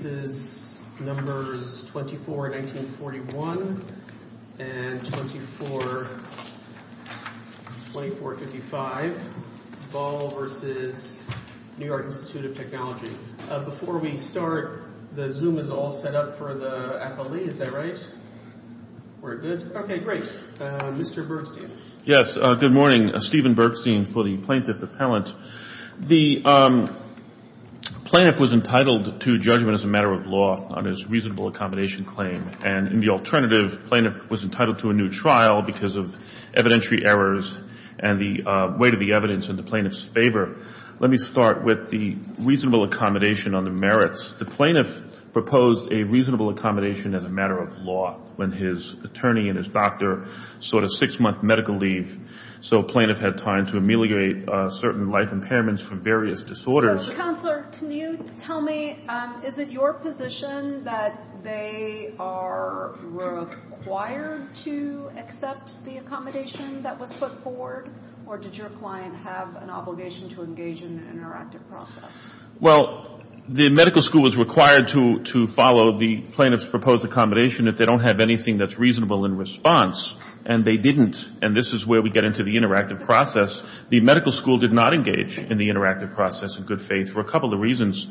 Before we start, the Zoom is all set up for the appellee, is that right? We're good? Okay, great. Mr. Bergstein. Yes. Good morning. Stephen Bergstein for the Plaintiff Appellant. The plaintiff was entitled to judgment as a matter of law on his reasonable accommodation claim. And in the alternative, the plaintiff was entitled to a new trial because of evidentiary errors and the weight of the evidence in the plaintiff's favor. Let me start with the reasonable accommodation on the merits. The plaintiff proposed a reasonable accommodation as a matter of law when his attorney and his doctor sought a six-month medical leave. So the plaintiff had time to ameliorate certain life impairments from various disorders. So, Counselor, can you tell me, is it your position that they are required to accept the accommodation that was put forward? Or did your client have an obligation to engage in an interactive process? Well, the medical school was required to follow the plaintiff's proposed accommodation if they don't have anything that's reasonable in response. And they didn't. And this is where we get into the interactive process. The medical school did not engage in the interactive process in good faith for a couple of reasons.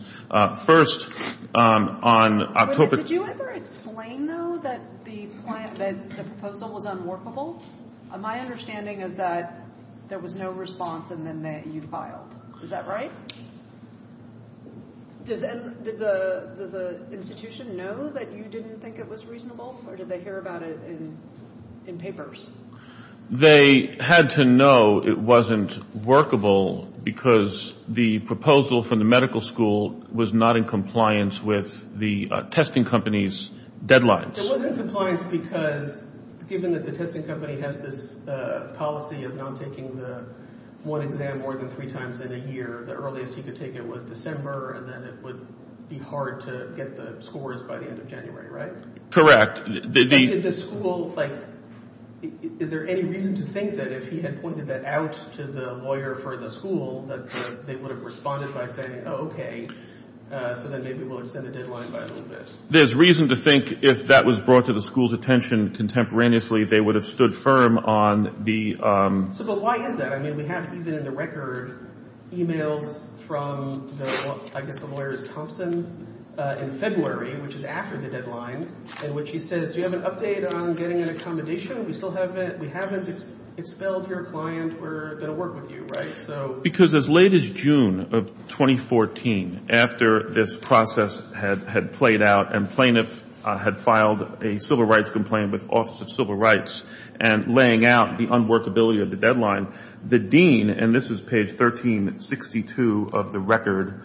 First, on October... Did you ever explain, though, that the proposal was unworkable? My understanding is that there was no response, and then that you filed. Is that right? Does the institution know that you didn't think it was reasonable, or did they hear about it in papers? They had to know it wasn't workable because the proposal from the medical school was not in compliance with the testing company's deadlines. It wasn't in compliance because, given that the testing company has this policy of not taking the one exam more than three times in a year, the earliest he could take it was December, and then it would be hard to get the scores by the end of January, right? Correct. Is there any reason to think that if he had pointed that out to the lawyer for the school, that they would have responded by saying, oh, okay, so then maybe we'll extend the deadline by a little bit? There's reason to think if that was brought to the school's attention contemporaneously, they would have stood firm on the... So, but why is that? I mean, we have, even in the record, emails from, I guess the lawyer is Thompson, in February, which is after the deadline, in which he says, do you have an update on getting an accommodation? We still haven't, we haven't expelled your client. We're going to work with you, right? Because as late as June of 2014, after this process had played out and plaintiffs had filed a civil rights complaint with the Office of Civil Rights and laying out the unworkability of the deadline, the dean, and this is page 1362 of the record,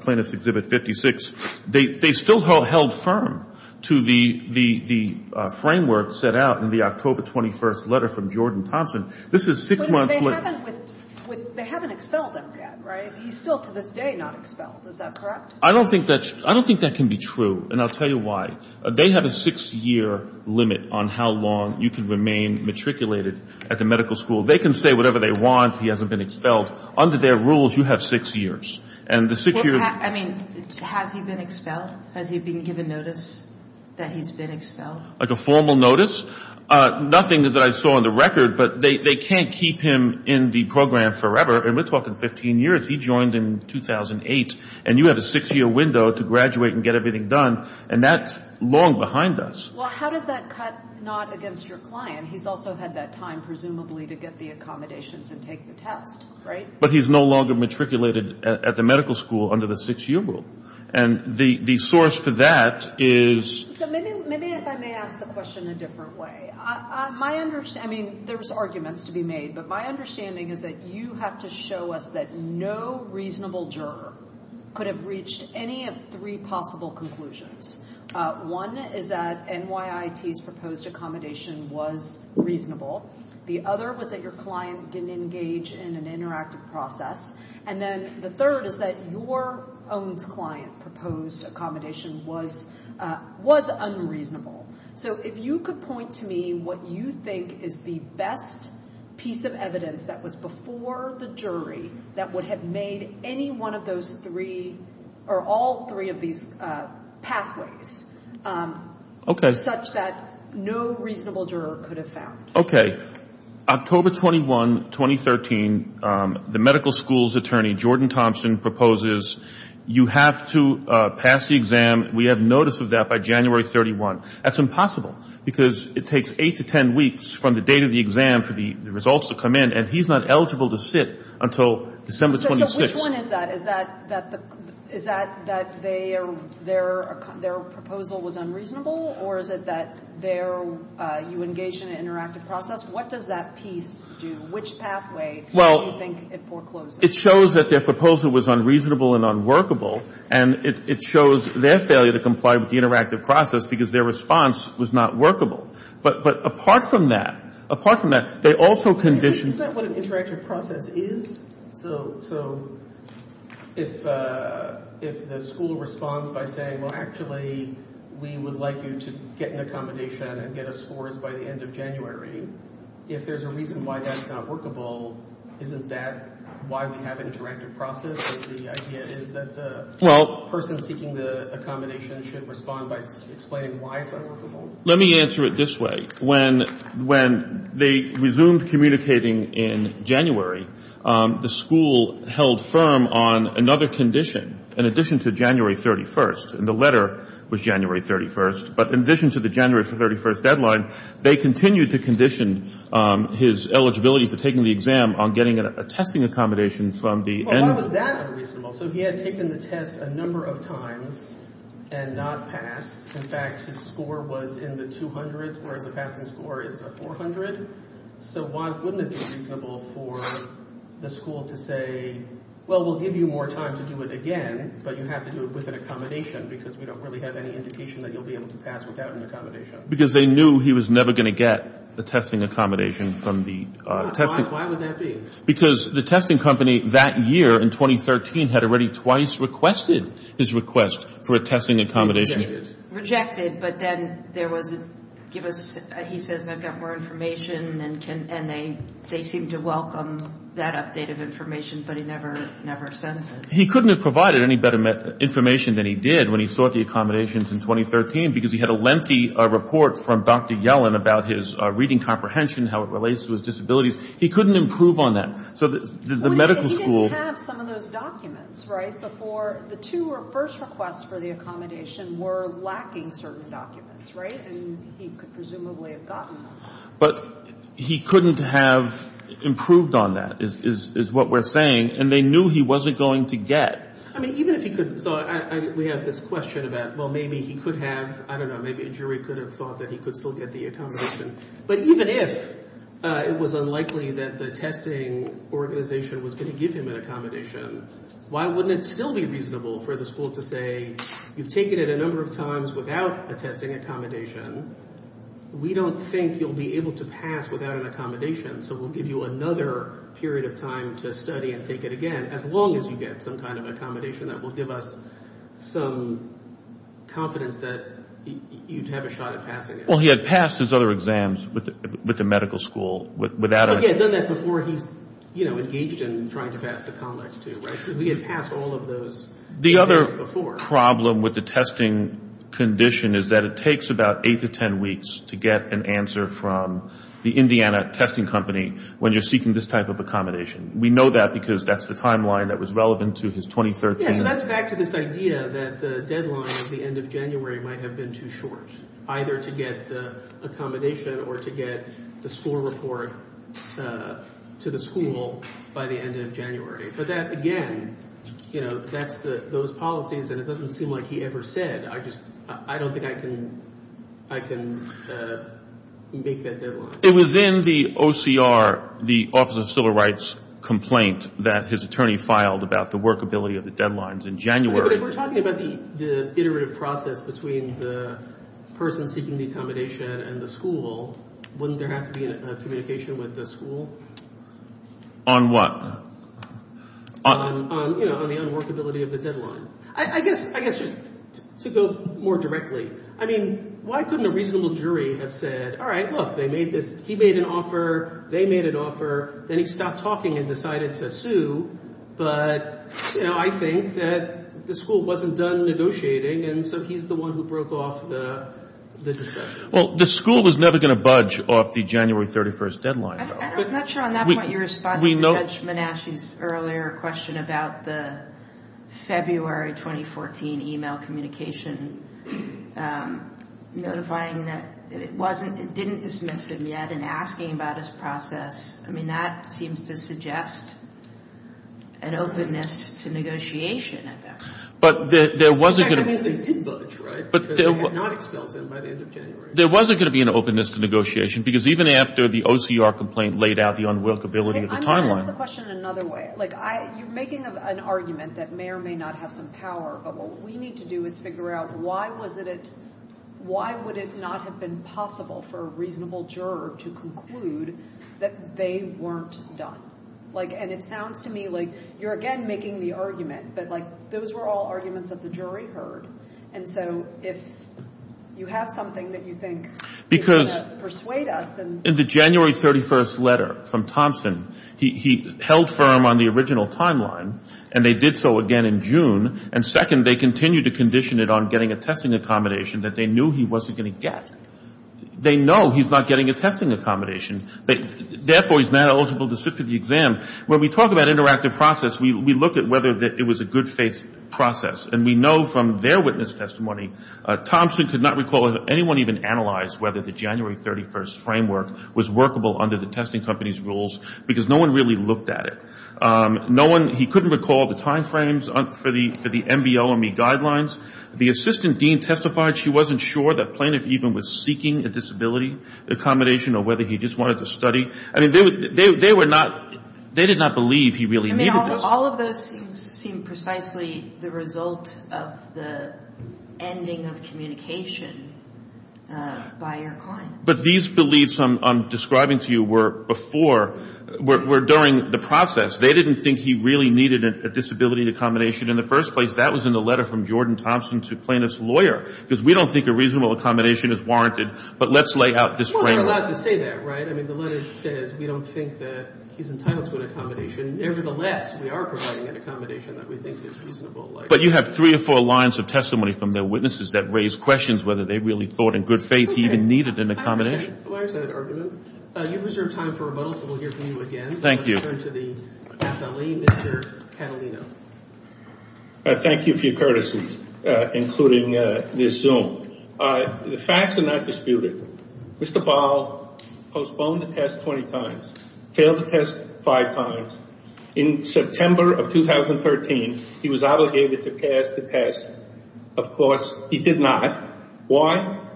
Plaintiff's Exhibit 56, they still held firm to the framework set out in the October 21st letter from Jordan Thompson. This is six months... But they haven't expelled him yet, right? He's still, to this day, not expelled. Is that correct? I don't think that can be true, and I'll tell you why. They have a six-year limit on how long you can remain matriculated at the medical school. They can say whatever they want. He hasn't been expelled. Under their rules, you have six years. And the six years... I mean, has he been expelled? Has he been given notice that he's been expelled? Like a formal notice? Nothing that I saw on the record, but they can't keep him in the program forever. And we're talking 15 years. He joined in 2008, and you have a six-year window to graduate and get everything done. And that's long behind us. Well, how does that cut not against your client? He's also had that time, presumably, to get the accommodations and take the test, right? But he's no longer matriculated at the medical school under the six-year rule. And the source for that is... So maybe if I may ask the question a different way. My understanding... I mean, there's arguments to be made, but my understanding is that you have to show us that no reasonable juror could have reached any of three possible conclusions. One is that NYIT's proposed accommodation was reasonable. The other was that your client didn't engage in an interactive process. And then the third is that your own client's proposed accommodation was unreasonable. So if you could point to me what you think is the best piece of evidence that was before the jury that would have made any one of those three, or all three of these pathways, such that no reasonable juror could have found. Okay. October 21, 2013, the medical school's attorney, Jordan Thompson, proposes you have to pass the exam. We have notice of that by January 31. That's impossible because it takes 8 to 10 weeks from the date of the exam for the results to come in, and he's not eligible to sit until December 26. So which one is that? Is that that their proposal was unreasonable, or is it that you engage in an interactive process? What does that piece do? Which pathway do you think it forecloses? Well, it shows that their proposal was unreasonable and unworkable, and it shows their failure to comply with the interactive process because their response was not workable. But apart from that, apart from that, they also conditioned. Isn't that what an interactive process is? So if the school responds by saying, well, actually we would like you to get an accommodation and get us scores by the end of January, if there's a reason why that's not workable, isn't that why we have interactive process? The idea is that the person seeking the accommodation should respond by explaining why it's unworkable? Let me answer it this way. When they resumed communicating in January, the school held firm on another condition. In addition to January 31st, and the letter was January 31st, but in addition to the January 31st deadline, they continued to condition his eligibility for taking the exam on getting a testing accommodation from the end. Well, why was that unreasonable? So he had taken the test a number of times and not passed. In fact, his score was in the 200s, whereas the passing score is a 400. So why wouldn't it be reasonable for the school to say, well, we'll give you more time to do it again, but you have to do it with an accommodation because we don't really have any indication that you'll be able to pass without an accommodation. Because they knew he was never going to get a testing accommodation from the test. Why would that be? Because the testing company that year, in 2013, had already twice requested his request for a testing accommodation. Rejected, but then there was a give us, he says, I've got more information, and they seemed to welcome that update of information, but he never sends it. He couldn't have provided any better information than he did when he sought the accommodations in 2013 because he had a lengthy report from Dr. Yellen about his reading comprehension, how it relates to his disabilities. He couldn't improve on that. So the medical school. He didn't have some of those documents, right, before the two first requests for the accommodation were lacking certain documents, right? And he could presumably have gotten them. But he couldn't have improved on that is what we're saying, and they knew he wasn't going to get. I mean, even if he could, so we have this question about, well, maybe he could have, I don't know, maybe a jury could have thought that he could still get the accommodation. But even if it was unlikely that the testing organization was going to give him an accommodation, why wouldn't it still be reasonable for the school to say, you've taken it a number of times without a testing accommodation. We don't think you'll be able to pass without an accommodation, so we'll give you another period of time to study and take it again, as long as you get some kind of accommodation that will give us some confidence that you'd have a shot at passing it. Well, he had passed his other exams with the medical school. But he had done that before he engaged in trying to pass the COMEX, too, right? He had passed all of those exams before. The other problem with the testing condition is that it takes about 8 to 10 weeks to get an answer from the Indiana testing company when you're seeking this type of accommodation. We know that because that's the timeline that was relevant to his 2013. Yeah, so that's back to this idea that the deadline of the end of January might have been too short, either to get the accommodation or to get the school report to the school by the end of January. But that, again, that's those policies, and it doesn't seem like he ever said, I don't think I can make that deadline. It was in the OCR, the Office of Civil Rights complaint, that his attorney filed about the workability of the deadlines in January. If we're talking about the iterative process between the person seeking the accommodation and the school, wouldn't there have to be a communication with the school? On what? On the unworkability of the deadline. I guess just to go more directly, I mean, why couldn't a reasonable jury have said, all right, look, they made this – he made an offer, they made an offer, then he stopped talking and decided to sue. But, you know, I think that the school wasn't done negotiating, and so he's the one who broke off the discussion. Well, the school was never going to budge off the January 31st deadline. I'm not sure on that point you're responding to Judge Menasche's earlier question about the February 2014 email communication, notifying that it wasn't – it didn't dismiss him yet and asking about his process. I mean, that seems to suggest an openness to negotiation at that point. But there wasn't going to – In fact, it means they didn't budge, right, because they had not expelled him by the end of January. There wasn't going to be an openness to negotiation, because even after the OCR complaint laid out the unworkability of the timeline – I'm going to ask the question another way. Like, you're making an argument that may or may not have some power, but what we need to do is figure out why was it – why would it not have been possible for a reasonable juror to conclude that they weren't done? Like, and it sounds to me like you're, again, making the argument, but, like, those were all arguments that the jury heard, and so if you have something that you think is going to persuade us, then – Because in the January 31st letter from Thompson, he held firm on the original timeline, and they did so again in June, and second, they continued to condition it on getting a testing accommodation that they knew he wasn't going to get. They know he's not getting a testing accommodation. Therefore, he's not eligible to sit for the exam. When we talk about interactive process, we look at whether it was a good faith process, and we know from their witness testimony, Thompson could not recall if anyone even analyzed whether the January 31st framework was workable under the testing company's rules, because no one really looked at it. No one – he couldn't recall the timeframes for the MBL-ME guidelines. The assistant dean testified she wasn't sure that Planoff even was seeking a disability accommodation or whether he just wanted to study. I mean, they were not – they did not believe he really needed this. I mean, all of those things seem precisely the result of the ending of communication by your client. But these beliefs I'm describing to you were before – were during the process. They didn't think he really needed a disability accommodation in the first place. That was in the letter from Jordan Thompson to Planoff's lawyer, because we don't think a reasonable accommodation is warranted, but let's lay out this framework. Well, we're allowed to say that, right? I mean, the letter says we don't think that he's entitled to an accommodation. Nevertheless, we are providing an accommodation that we think is reasonable. But you have three or four lines of testimony from their witnesses that raise questions whether they really thought in good faith he even needed an accommodation. You reserved time for rebuttal, so we'll hear from you again. Thank you. Let's turn to the athlete, Mr. Catalino. Thank you for your courtesies, including this Zoom. The facts are not disputed. Mr. Ball postponed the test 20 times, failed the test five times. In September of 2013, he was obligated to pass the test. Of course, he did not.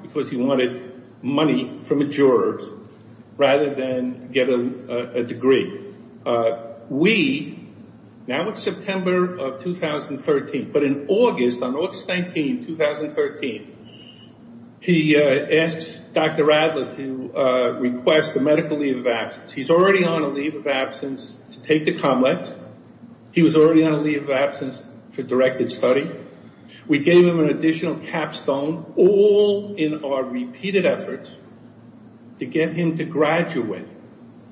Because he wanted money from a juror rather than get a degree. We, now it's September of 2013, but in August, on August 19, 2013, he asked Dr. Radler to request a medical leave of absence. He's already on a leave of absence to take the complex. He was already on a leave of absence for directed study. We gave him an additional capstone, all in our repeated efforts to get him to graduate.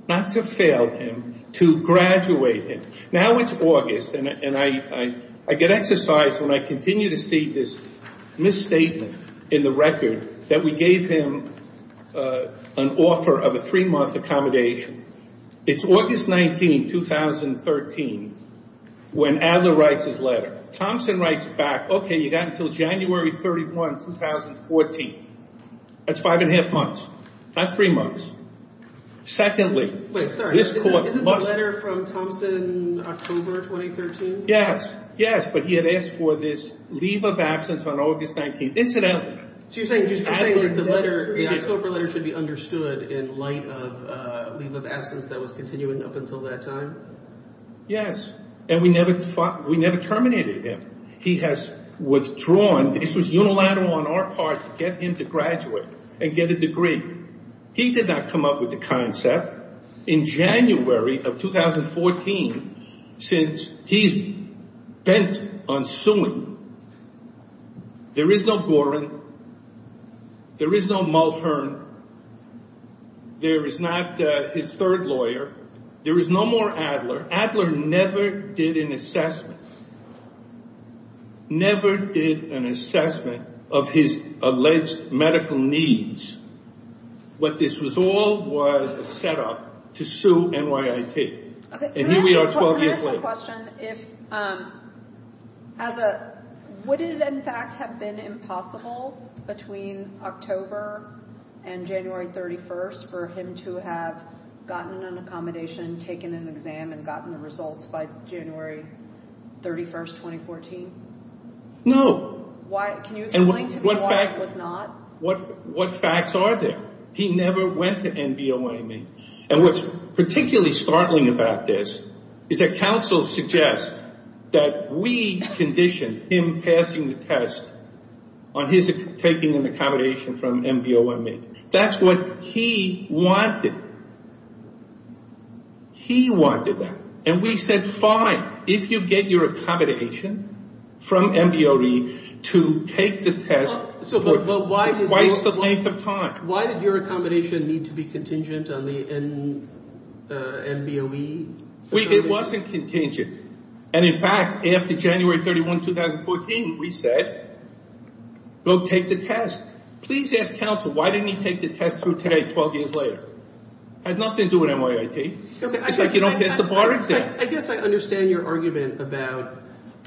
Not to fail him, to graduate him. Now it's August, and I get exercised when I continue to see this misstatement in the record that we gave him an offer of a three-month accommodation. It's August 19, 2013, when Adler writes his letter. Thompson writes back, okay, you got until January 31, 2014. That's five and a half months, not three months. Secondly, this court must... Wait, sorry, isn't the letter from Thompson October 2013? Yes, yes, but he had asked for this leave of absence on August 19, incidentally. So you're saying that the October letter should be understood in light of leave of absence that was continuing up until that time? Yes, and we never terminated him. He has withdrawn. This was unilateral on our part to get him to graduate and get a degree. He did not come up with the concept. In January of 2014, since he's bent on suing, there is no Gorin. There is no Mulhern. There is not his third lawyer. There is no more Adler. Adler never did an assessment, never did an assessment of his alleged medical needs. What this was all was a setup to sue NYIT. And here we are 12 years later. I have a question. Would it, in fact, have been impossible between October and January 31 for him to have gotten an accommodation, taken an exam, and gotten the results by January 31, 2014? No. Can you explain to me why it was not? What facts are there? He never went to NBOA meeting. And what's particularly startling about this is that counsel suggests that we conditioned him passing the test on his taking an accommodation from NBOA meeting. That's what he wanted. He wanted that. And we said, fine, if you get your accommodation from NBOA meeting to take the test for twice the length of time. Why did your accommodation need to be contingent on the NBOE? It wasn't contingent. And, in fact, after January 31, 2014, we said, go take the test. Please ask counsel, why didn't he take the test through today 12 years later? It had nothing to do with NYIT. It's like you don't pass the bar exam. I guess I understand your argument about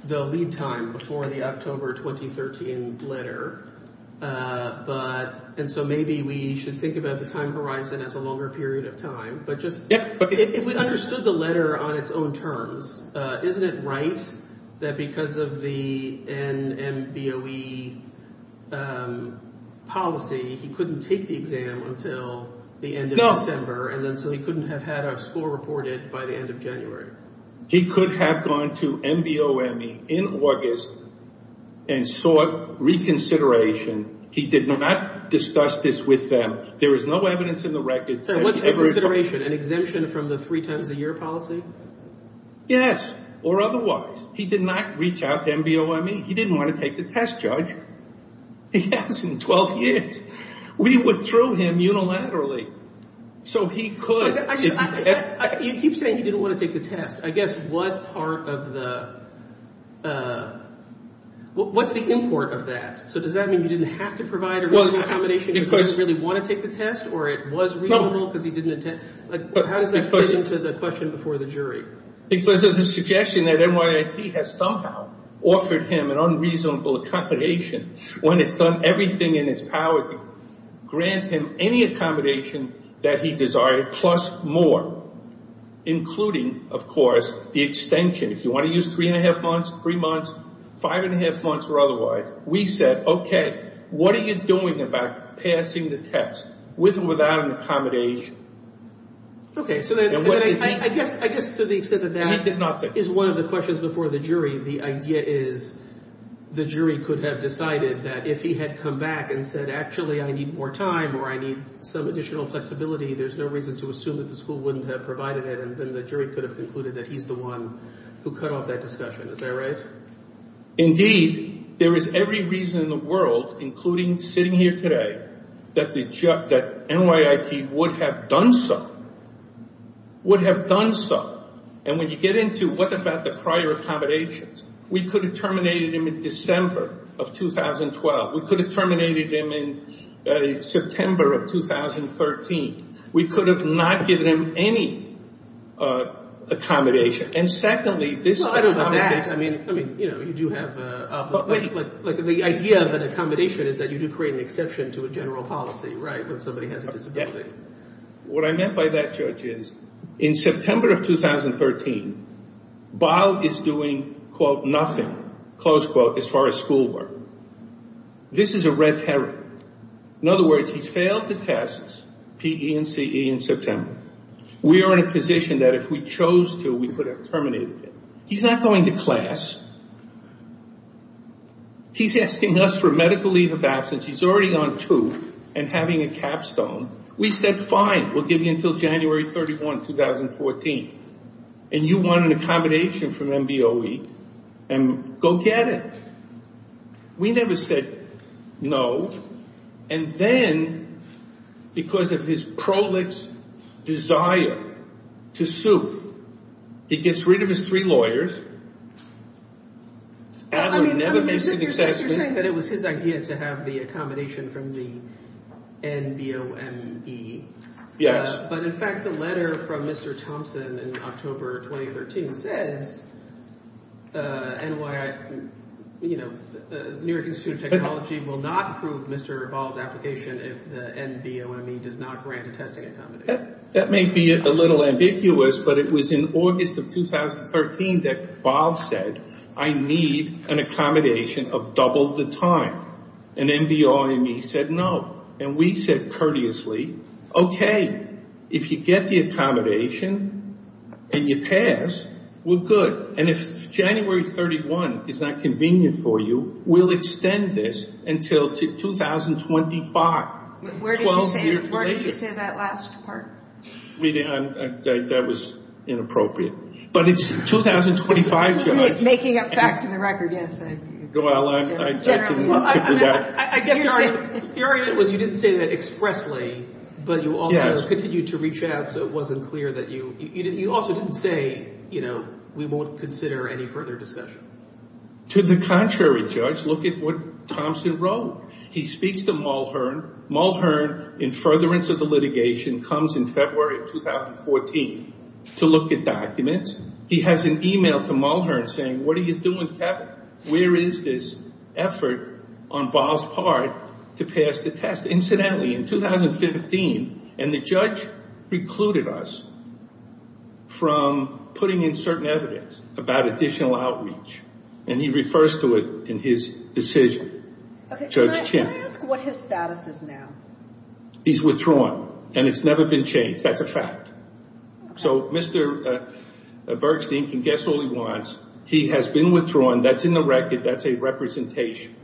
the lead time before the October 2013 letter. And so maybe we should think about the time horizon as a longer period of time. But if we understood the letter on its own terms, isn't it right that because of the NBOE policy, he couldn't take the exam until the end of December, and then so he couldn't have had a score reported by the end of January? He could have gone to NBOME in August and sought reconsideration. He did not discuss this with them. There is no evidence in the record. What's the consideration, an exemption from the three times a year policy? Yes, or otherwise. He did not reach out to NBOME. He didn't want to take the test, Judge. He hasn't 12 years. We withdrew him unilaterally. So he could. You keep saying he didn't want to take the test. I guess what part of the – what's the import of that? So does that mean he didn't have to provide a reasonable accommodation because he didn't really want to take the test, or it was reasonable because he didn't intend – how does that fit into the question before the jury? Because of the suggestion that NYIT has somehow offered him an unreasonable accommodation when it's done everything in its power to grant him any accommodation that he desired, plus more, including, of course, the extension. If you want to use three-and-a-half months, three months, five-and-a-half months or otherwise, we said, okay, what are you doing about passing the test with or without an accommodation? Okay, so then I guess to the extent that that is one of the questions before the jury, the idea is the jury could have decided that if he had come back and said, actually, I need more time or I need some additional flexibility, there's no reason to assume that the school wouldn't have provided it, and then the jury could have concluded that he's the one who cut off that discussion. Is that right? Indeed, there is every reason in the world, including sitting here today, that NYIT would have done so, would have done so. And when you get into what about the prior accommodations, we could have terminated him in December of 2012. We could have terminated him in September of 2013. We could have not given him any accommodation. And secondly, this accommodation— Well, I don't know about that. I mean, you do have a— But the idea of an accommodation is that you do create an exception to a general policy, right, when somebody has a disability. What I meant by that, Judge, is in September of 2013, Baal is doing, quote, nothing, close quote, as far as school work. This is a red herring. In other words, he's failed the tests, P, E, and C, E, in September. We are in a position that if we chose to, we could have terminated him. He's not going to class. He's asking us for a medical leave of absence. He's already on two and having a capstone. We said, fine, we'll give you until January 31, 2014. And you want an accommodation from NBOE. And go get it. We never said no. And then, because of his prolix desire to sue, he gets rid of his three lawyers. Adam never makes an exception. You're saying that it was his idea to have the accommodation from the NBOME. Yes. But, in fact, the letter from Mr. Thompson in October 2013 says, NYI, you know, New York Institute of Technology will not approve Mr. Baal's application if the NBOME does not grant a testing accommodation. That may be a little ambiguous, but it was in August of 2013 that Baal said, I need an accommodation of double the time. And NBOME said no. And we said courteously, okay, if you get the accommodation and you pass, we're good. And if January 31 is not convenient for you, we'll extend this until 2025. Where did you say that last part? That was inappropriate. But it's 2025, Judge. Making up facts in the record, yes. I guess your argument was you didn't say that expressly, but you also continued to reach out so it wasn't clear that you – you also didn't say, you know, we won't consider any further discussion. To the contrary, Judge. Look at what Thompson wrote. He speaks to Mulhern. Mulhern, in furtherance of the litigation, comes in February of 2014 to look at documents. He has an email to Mulhern saying, what are you doing, Kevin? Where is this effort on Baal's part to pass the test? Incidentally, in 2015, and the judge precluded us from putting in certain evidence about additional outreach, and he refers to it in his decision. Okay, can I ask what his status is now? He's withdrawn, and it's never been changed. That's a fact. So Mr. Bergstein can guess all he wants. He has been withdrawn. That's in the record. That's a representation.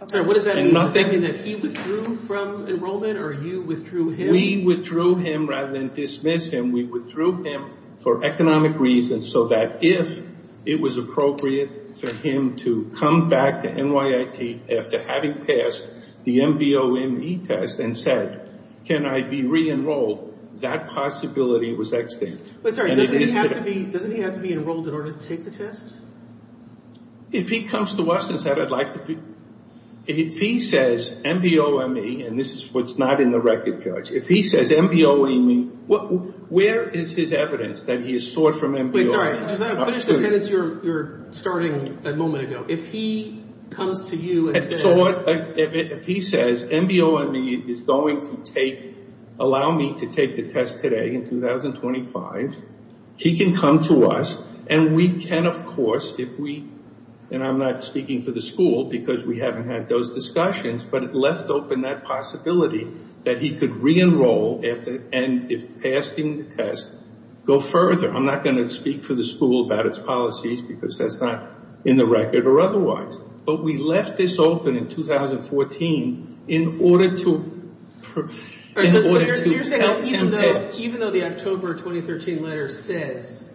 I'm sorry, what does that mean? You're thinking that he withdrew from enrollment or you withdrew him? We withdrew him rather than dismiss him. We withdrew him for economic reasons so that if it was appropriate for him to come back to NYIT after having passed the MBOME test and said, can I be re-enrolled, that possibility was extinct. Doesn't he have to be enrolled in order to take the test? If he comes to us and says, if he says MBOME, and this is what's not in the record, Judge, if he says MBOME, where is his evidence that he has sought from MBOME? Wait, sorry, finish the sentence you were starting a moment ago. If he comes to you and says- If he says MBOME is going to allow me to take the test today in 2025, he can come to us and we can, of course, if we, and I'm not speaking for the school because we haven't had those discussions, but it left open that possibility that he could re-enroll and if passing the test, go further. I'm not going to speak for the school about its policies because that's not in the record or otherwise. But we left this open in 2014 in order to- So you're saying even though the October 2013 letter says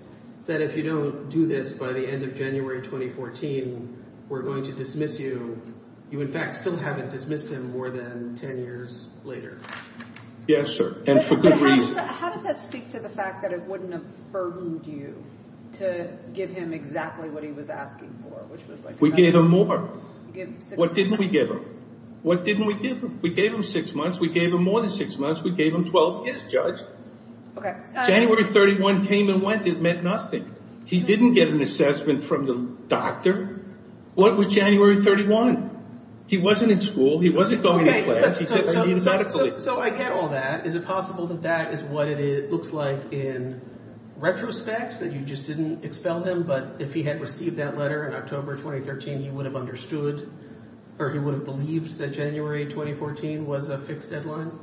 that if you don't do this by the end of January 2014, we're going to dismiss you, you in fact still haven't dismissed him more than 10 years later. Yes, sir, and for good reason. How does that speak to the fact that it wouldn't have burdened you to give him exactly what he was asking for, which was- We gave him more. What didn't we give him? What didn't we give him? We gave him six months. We gave him more than six months. We gave him 12 years, Judge. Okay. January 31 came and went. It meant nothing. He didn't get an assessment from the doctor. What was January 31? He wasn't in school. He wasn't going to class. He didn't need medical aid. So I get all that. Is it possible that that is what it looks like in retrospect, that you just didn't expel him, but if he had received that letter in October 2013, he would have understood or he would have believed that January 2014 was a fixed deadline?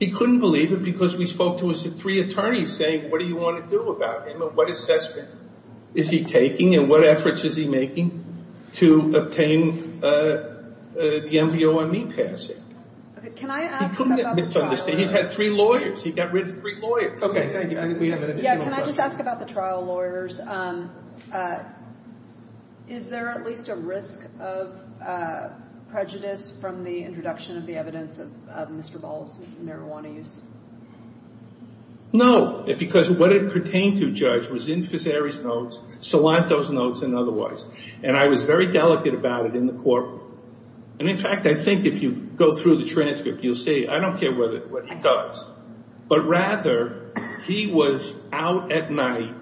He couldn't believe it because we spoke to three attorneys saying, what do you want to do about him and what assessment is he taking and what efforts is he making to obtain the MVOME passing? Can I ask about the trial lawyers? He's had three lawyers. He got rid of three lawyers. Okay. Thank you. I think we have an additional question. Can I just ask about the trial lawyers? Is there at least a risk of prejudice from the introduction of the evidence of Mr. Ball's marijuana use? No, because what it pertained to, Judge, was in Fiseri's notes, Salanto's notes, and otherwise. And I was very delicate about it in the court. And, in fact, I think if you go through the transcript, you'll see, I don't care what he does, but rather he was out at night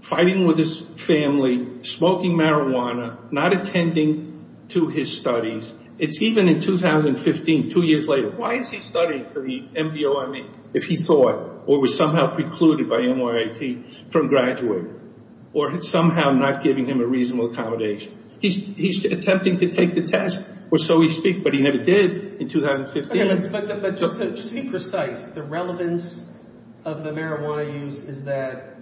fighting with his family, smoking marijuana, not attending to his studies. It's even in 2015, two years later. Why is he studying for the MVOME if he thought or was somehow precluded by NYIT from graduating or somehow not giving him a reasonable accommodation? He's attempting to take the test, or so we speak, but he never did in 2015. Okay, but just to be precise, the relevance of the marijuana use is that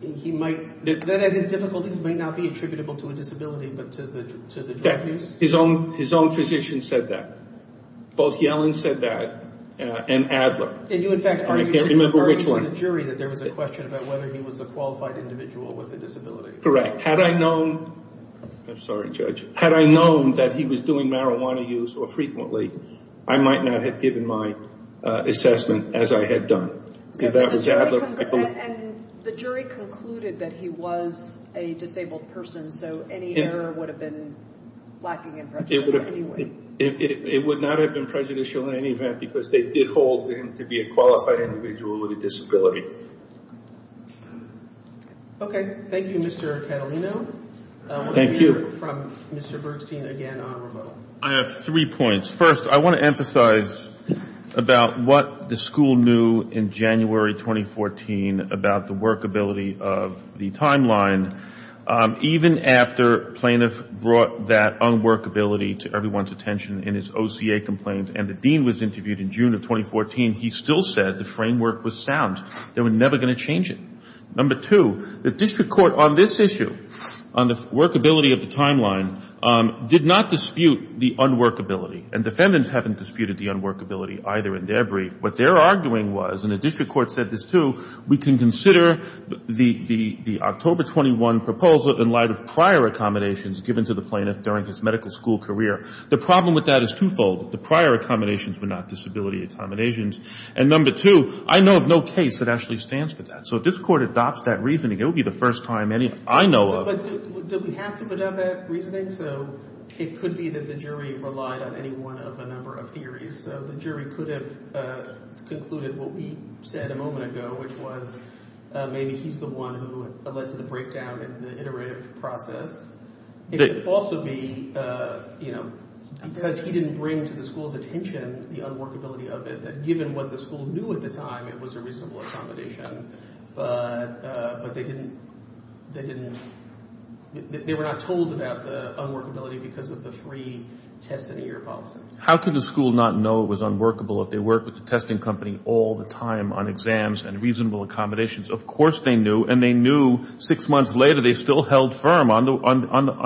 he might, that his difficulties might not be attributable to a disability, but to the drug use? His own physician said that. Both Yellen said that and Adler. And you, in fact, argued to the jury that there was a question about whether he was a qualified individual with a disability. Correct. Had I known, I'm sorry, Judge, had I known that he was doing marijuana use so frequently, I might not have given my assessment as I had done. And the jury concluded that he was a disabled person, so any error would have been lacking in prejudice anyway. It would not have been prejudicial in any event because they did hold him to be a qualified individual with a disability. Okay. Thank you, Mr. Catalino. Thank you. We'll hear from Mr. Bergstein again on rebuttal. I have three points. First, I want to emphasize about what the school knew in January 2014 about the workability of the timeline. Even after plaintiff brought that unworkability to everyone's attention in his OCA complaint and the dean was interviewed in June of 2014, he still said the framework was sound. They were never going to change it. Number two, the district court on this issue, on the workability of the timeline, did not dispute the unworkability, and defendants haven't disputed the unworkability either in their brief. What they're arguing was, and the district court said this too, we can consider the October 21 proposal in light of prior accommodations given to the plaintiff during his medical school career. The problem with that is twofold. The prior accommodations were not disability accommodations. And number two, I know of no case that actually stands for that. So if this court adopts that reasoning, it will be the first time any I know of. But did we have to adopt that reasoning? So it could be that the jury relied on any one of a number of theories. So the jury could have concluded what we said a moment ago, which was maybe he's the one who led to the breakdown in the iterative process. It could also be, you know, because he didn't bring to the school's attention the unworkability of it, that given what the school knew at the time, it was a reasonable accommodation. But they didn't – they were not told about the unworkability because of the three tests in a year policy. How could the school not know it was unworkable if they worked with the testing company all the time on exams and reasonable accommodations? Of course they knew. And they knew six months later they still held firm on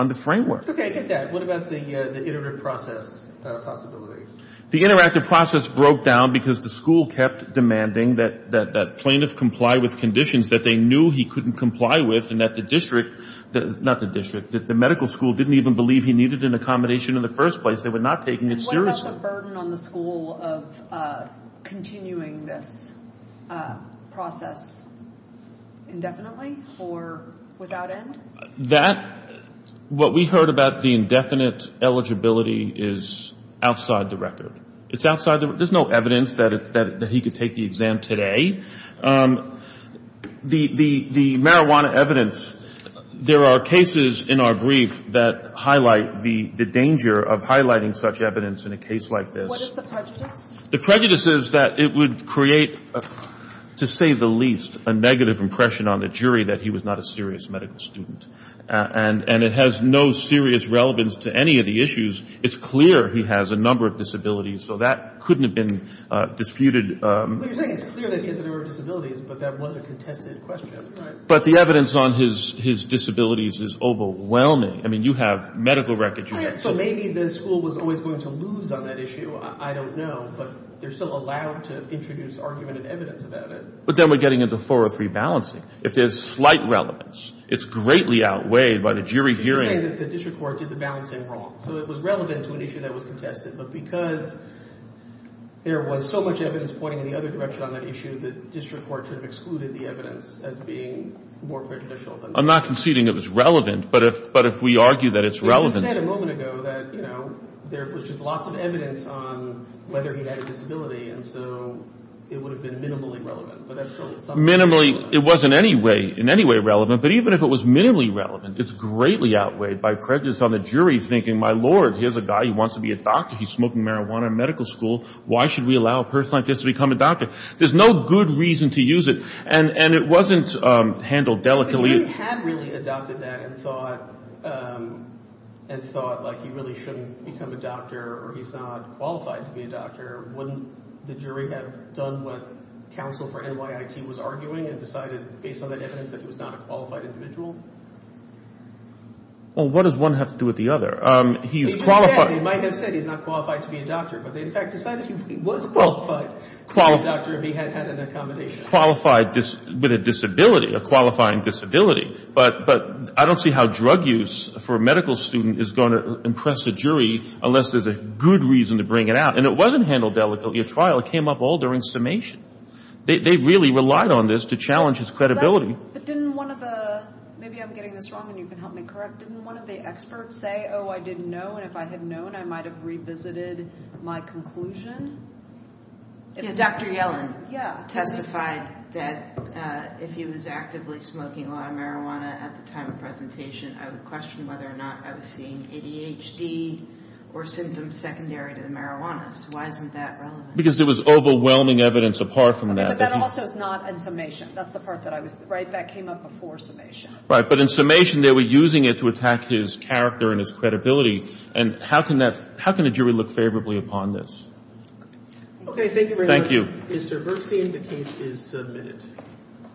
the framework. Okay, get that. What about the iterative process possibility? The interactive process broke down because the school kept demanding that plaintiffs comply with conditions that they knew he couldn't comply with and that the district – not the district, that the medical school didn't even believe he needed an accommodation in the first place. They were not taking it seriously. What about the burden on the school of continuing this process indefinitely or without end? That – what we heard about the indefinite eligibility is outside the record. It's outside the – there's no evidence that he could take the exam today. The marijuana evidence – there are cases in our brief that highlight the danger of highlighting such evidence in a case like this. What is the prejudice? The prejudice is that it would create, to say the least, a negative impression on the jury that he was not a serious medical student. And it has no serious relevance to any of the issues. It's clear he has a number of disabilities, so that couldn't have been disputed. But you're saying it's clear that he has a number of disabilities, but that was a contested question. But the evidence on his disabilities is overwhelming. I mean, you have medical records. So maybe the school was always going to lose on that issue. I don't know. But they're still allowed to introduce argument and evidence about it. But then we're getting into 403 balancing. If there's slight relevance, it's greatly outweighed by the jury hearing. You're saying that the district court did the balancing wrong. So it was relevant to an issue that was contested. But because there was so much evidence pointing in the other direction on that issue, the district court should have excluded the evidence as being more prejudicial. I'm not conceding it was relevant, but if we argue that it's relevant. You said a moment ago that there was just lots of evidence on whether he had a disability, and so it would have been minimally relevant. Minimally, it wasn't in any way relevant. But even if it was minimally relevant, it's greatly outweighed by prejudice on the jury thinking, my Lord, here's a guy who wants to be a doctor. He's smoking marijuana in medical school. Why should we allow a person like this to become a doctor? There's no good reason to use it. And it wasn't handled delicately. If he had really adopted that and thought like he really shouldn't become a doctor or he's not qualified to be a doctor, wouldn't the jury have done what counsel for NYIT was arguing and decided based on that evidence that he was not a qualified individual? Well, what does one have to do with the other? They might have said he's not qualified to be a doctor, but they in fact decided he was qualified to be a doctor if he had had an accommodation. He's qualified with a disability, a qualifying disability. But I don't see how drug use for a medical student is going to impress a jury unless there's a good reason to bring it out. And it wasn't handled delicately at trial. It came up all during summation. They really relied on this to challenge his credibility. But didn't one of the – maybe I'm getting this wrong and you can help me correct. Didn't one of the experts say, oh, I didn't know, and if I had known, I might have revisited my conclusion? Dr. Yellen testified that if he was actively smoking a lot of marijuana at the time of presentation, I would question whether or not I was seeing ADHD or symptoms secondary to the marijuana. So why isn't that relevant? Because there was overwhelming evidence apart from that. But that also is not in summation. That's the part that I was – right? That came up before summation. Right. But in summation, they were using it to attack his character and his credibility. And how can that – how can a jury look favorably upon this? Okay. Thank you very much. Thank you. Mr. Berstein, the case is submitted.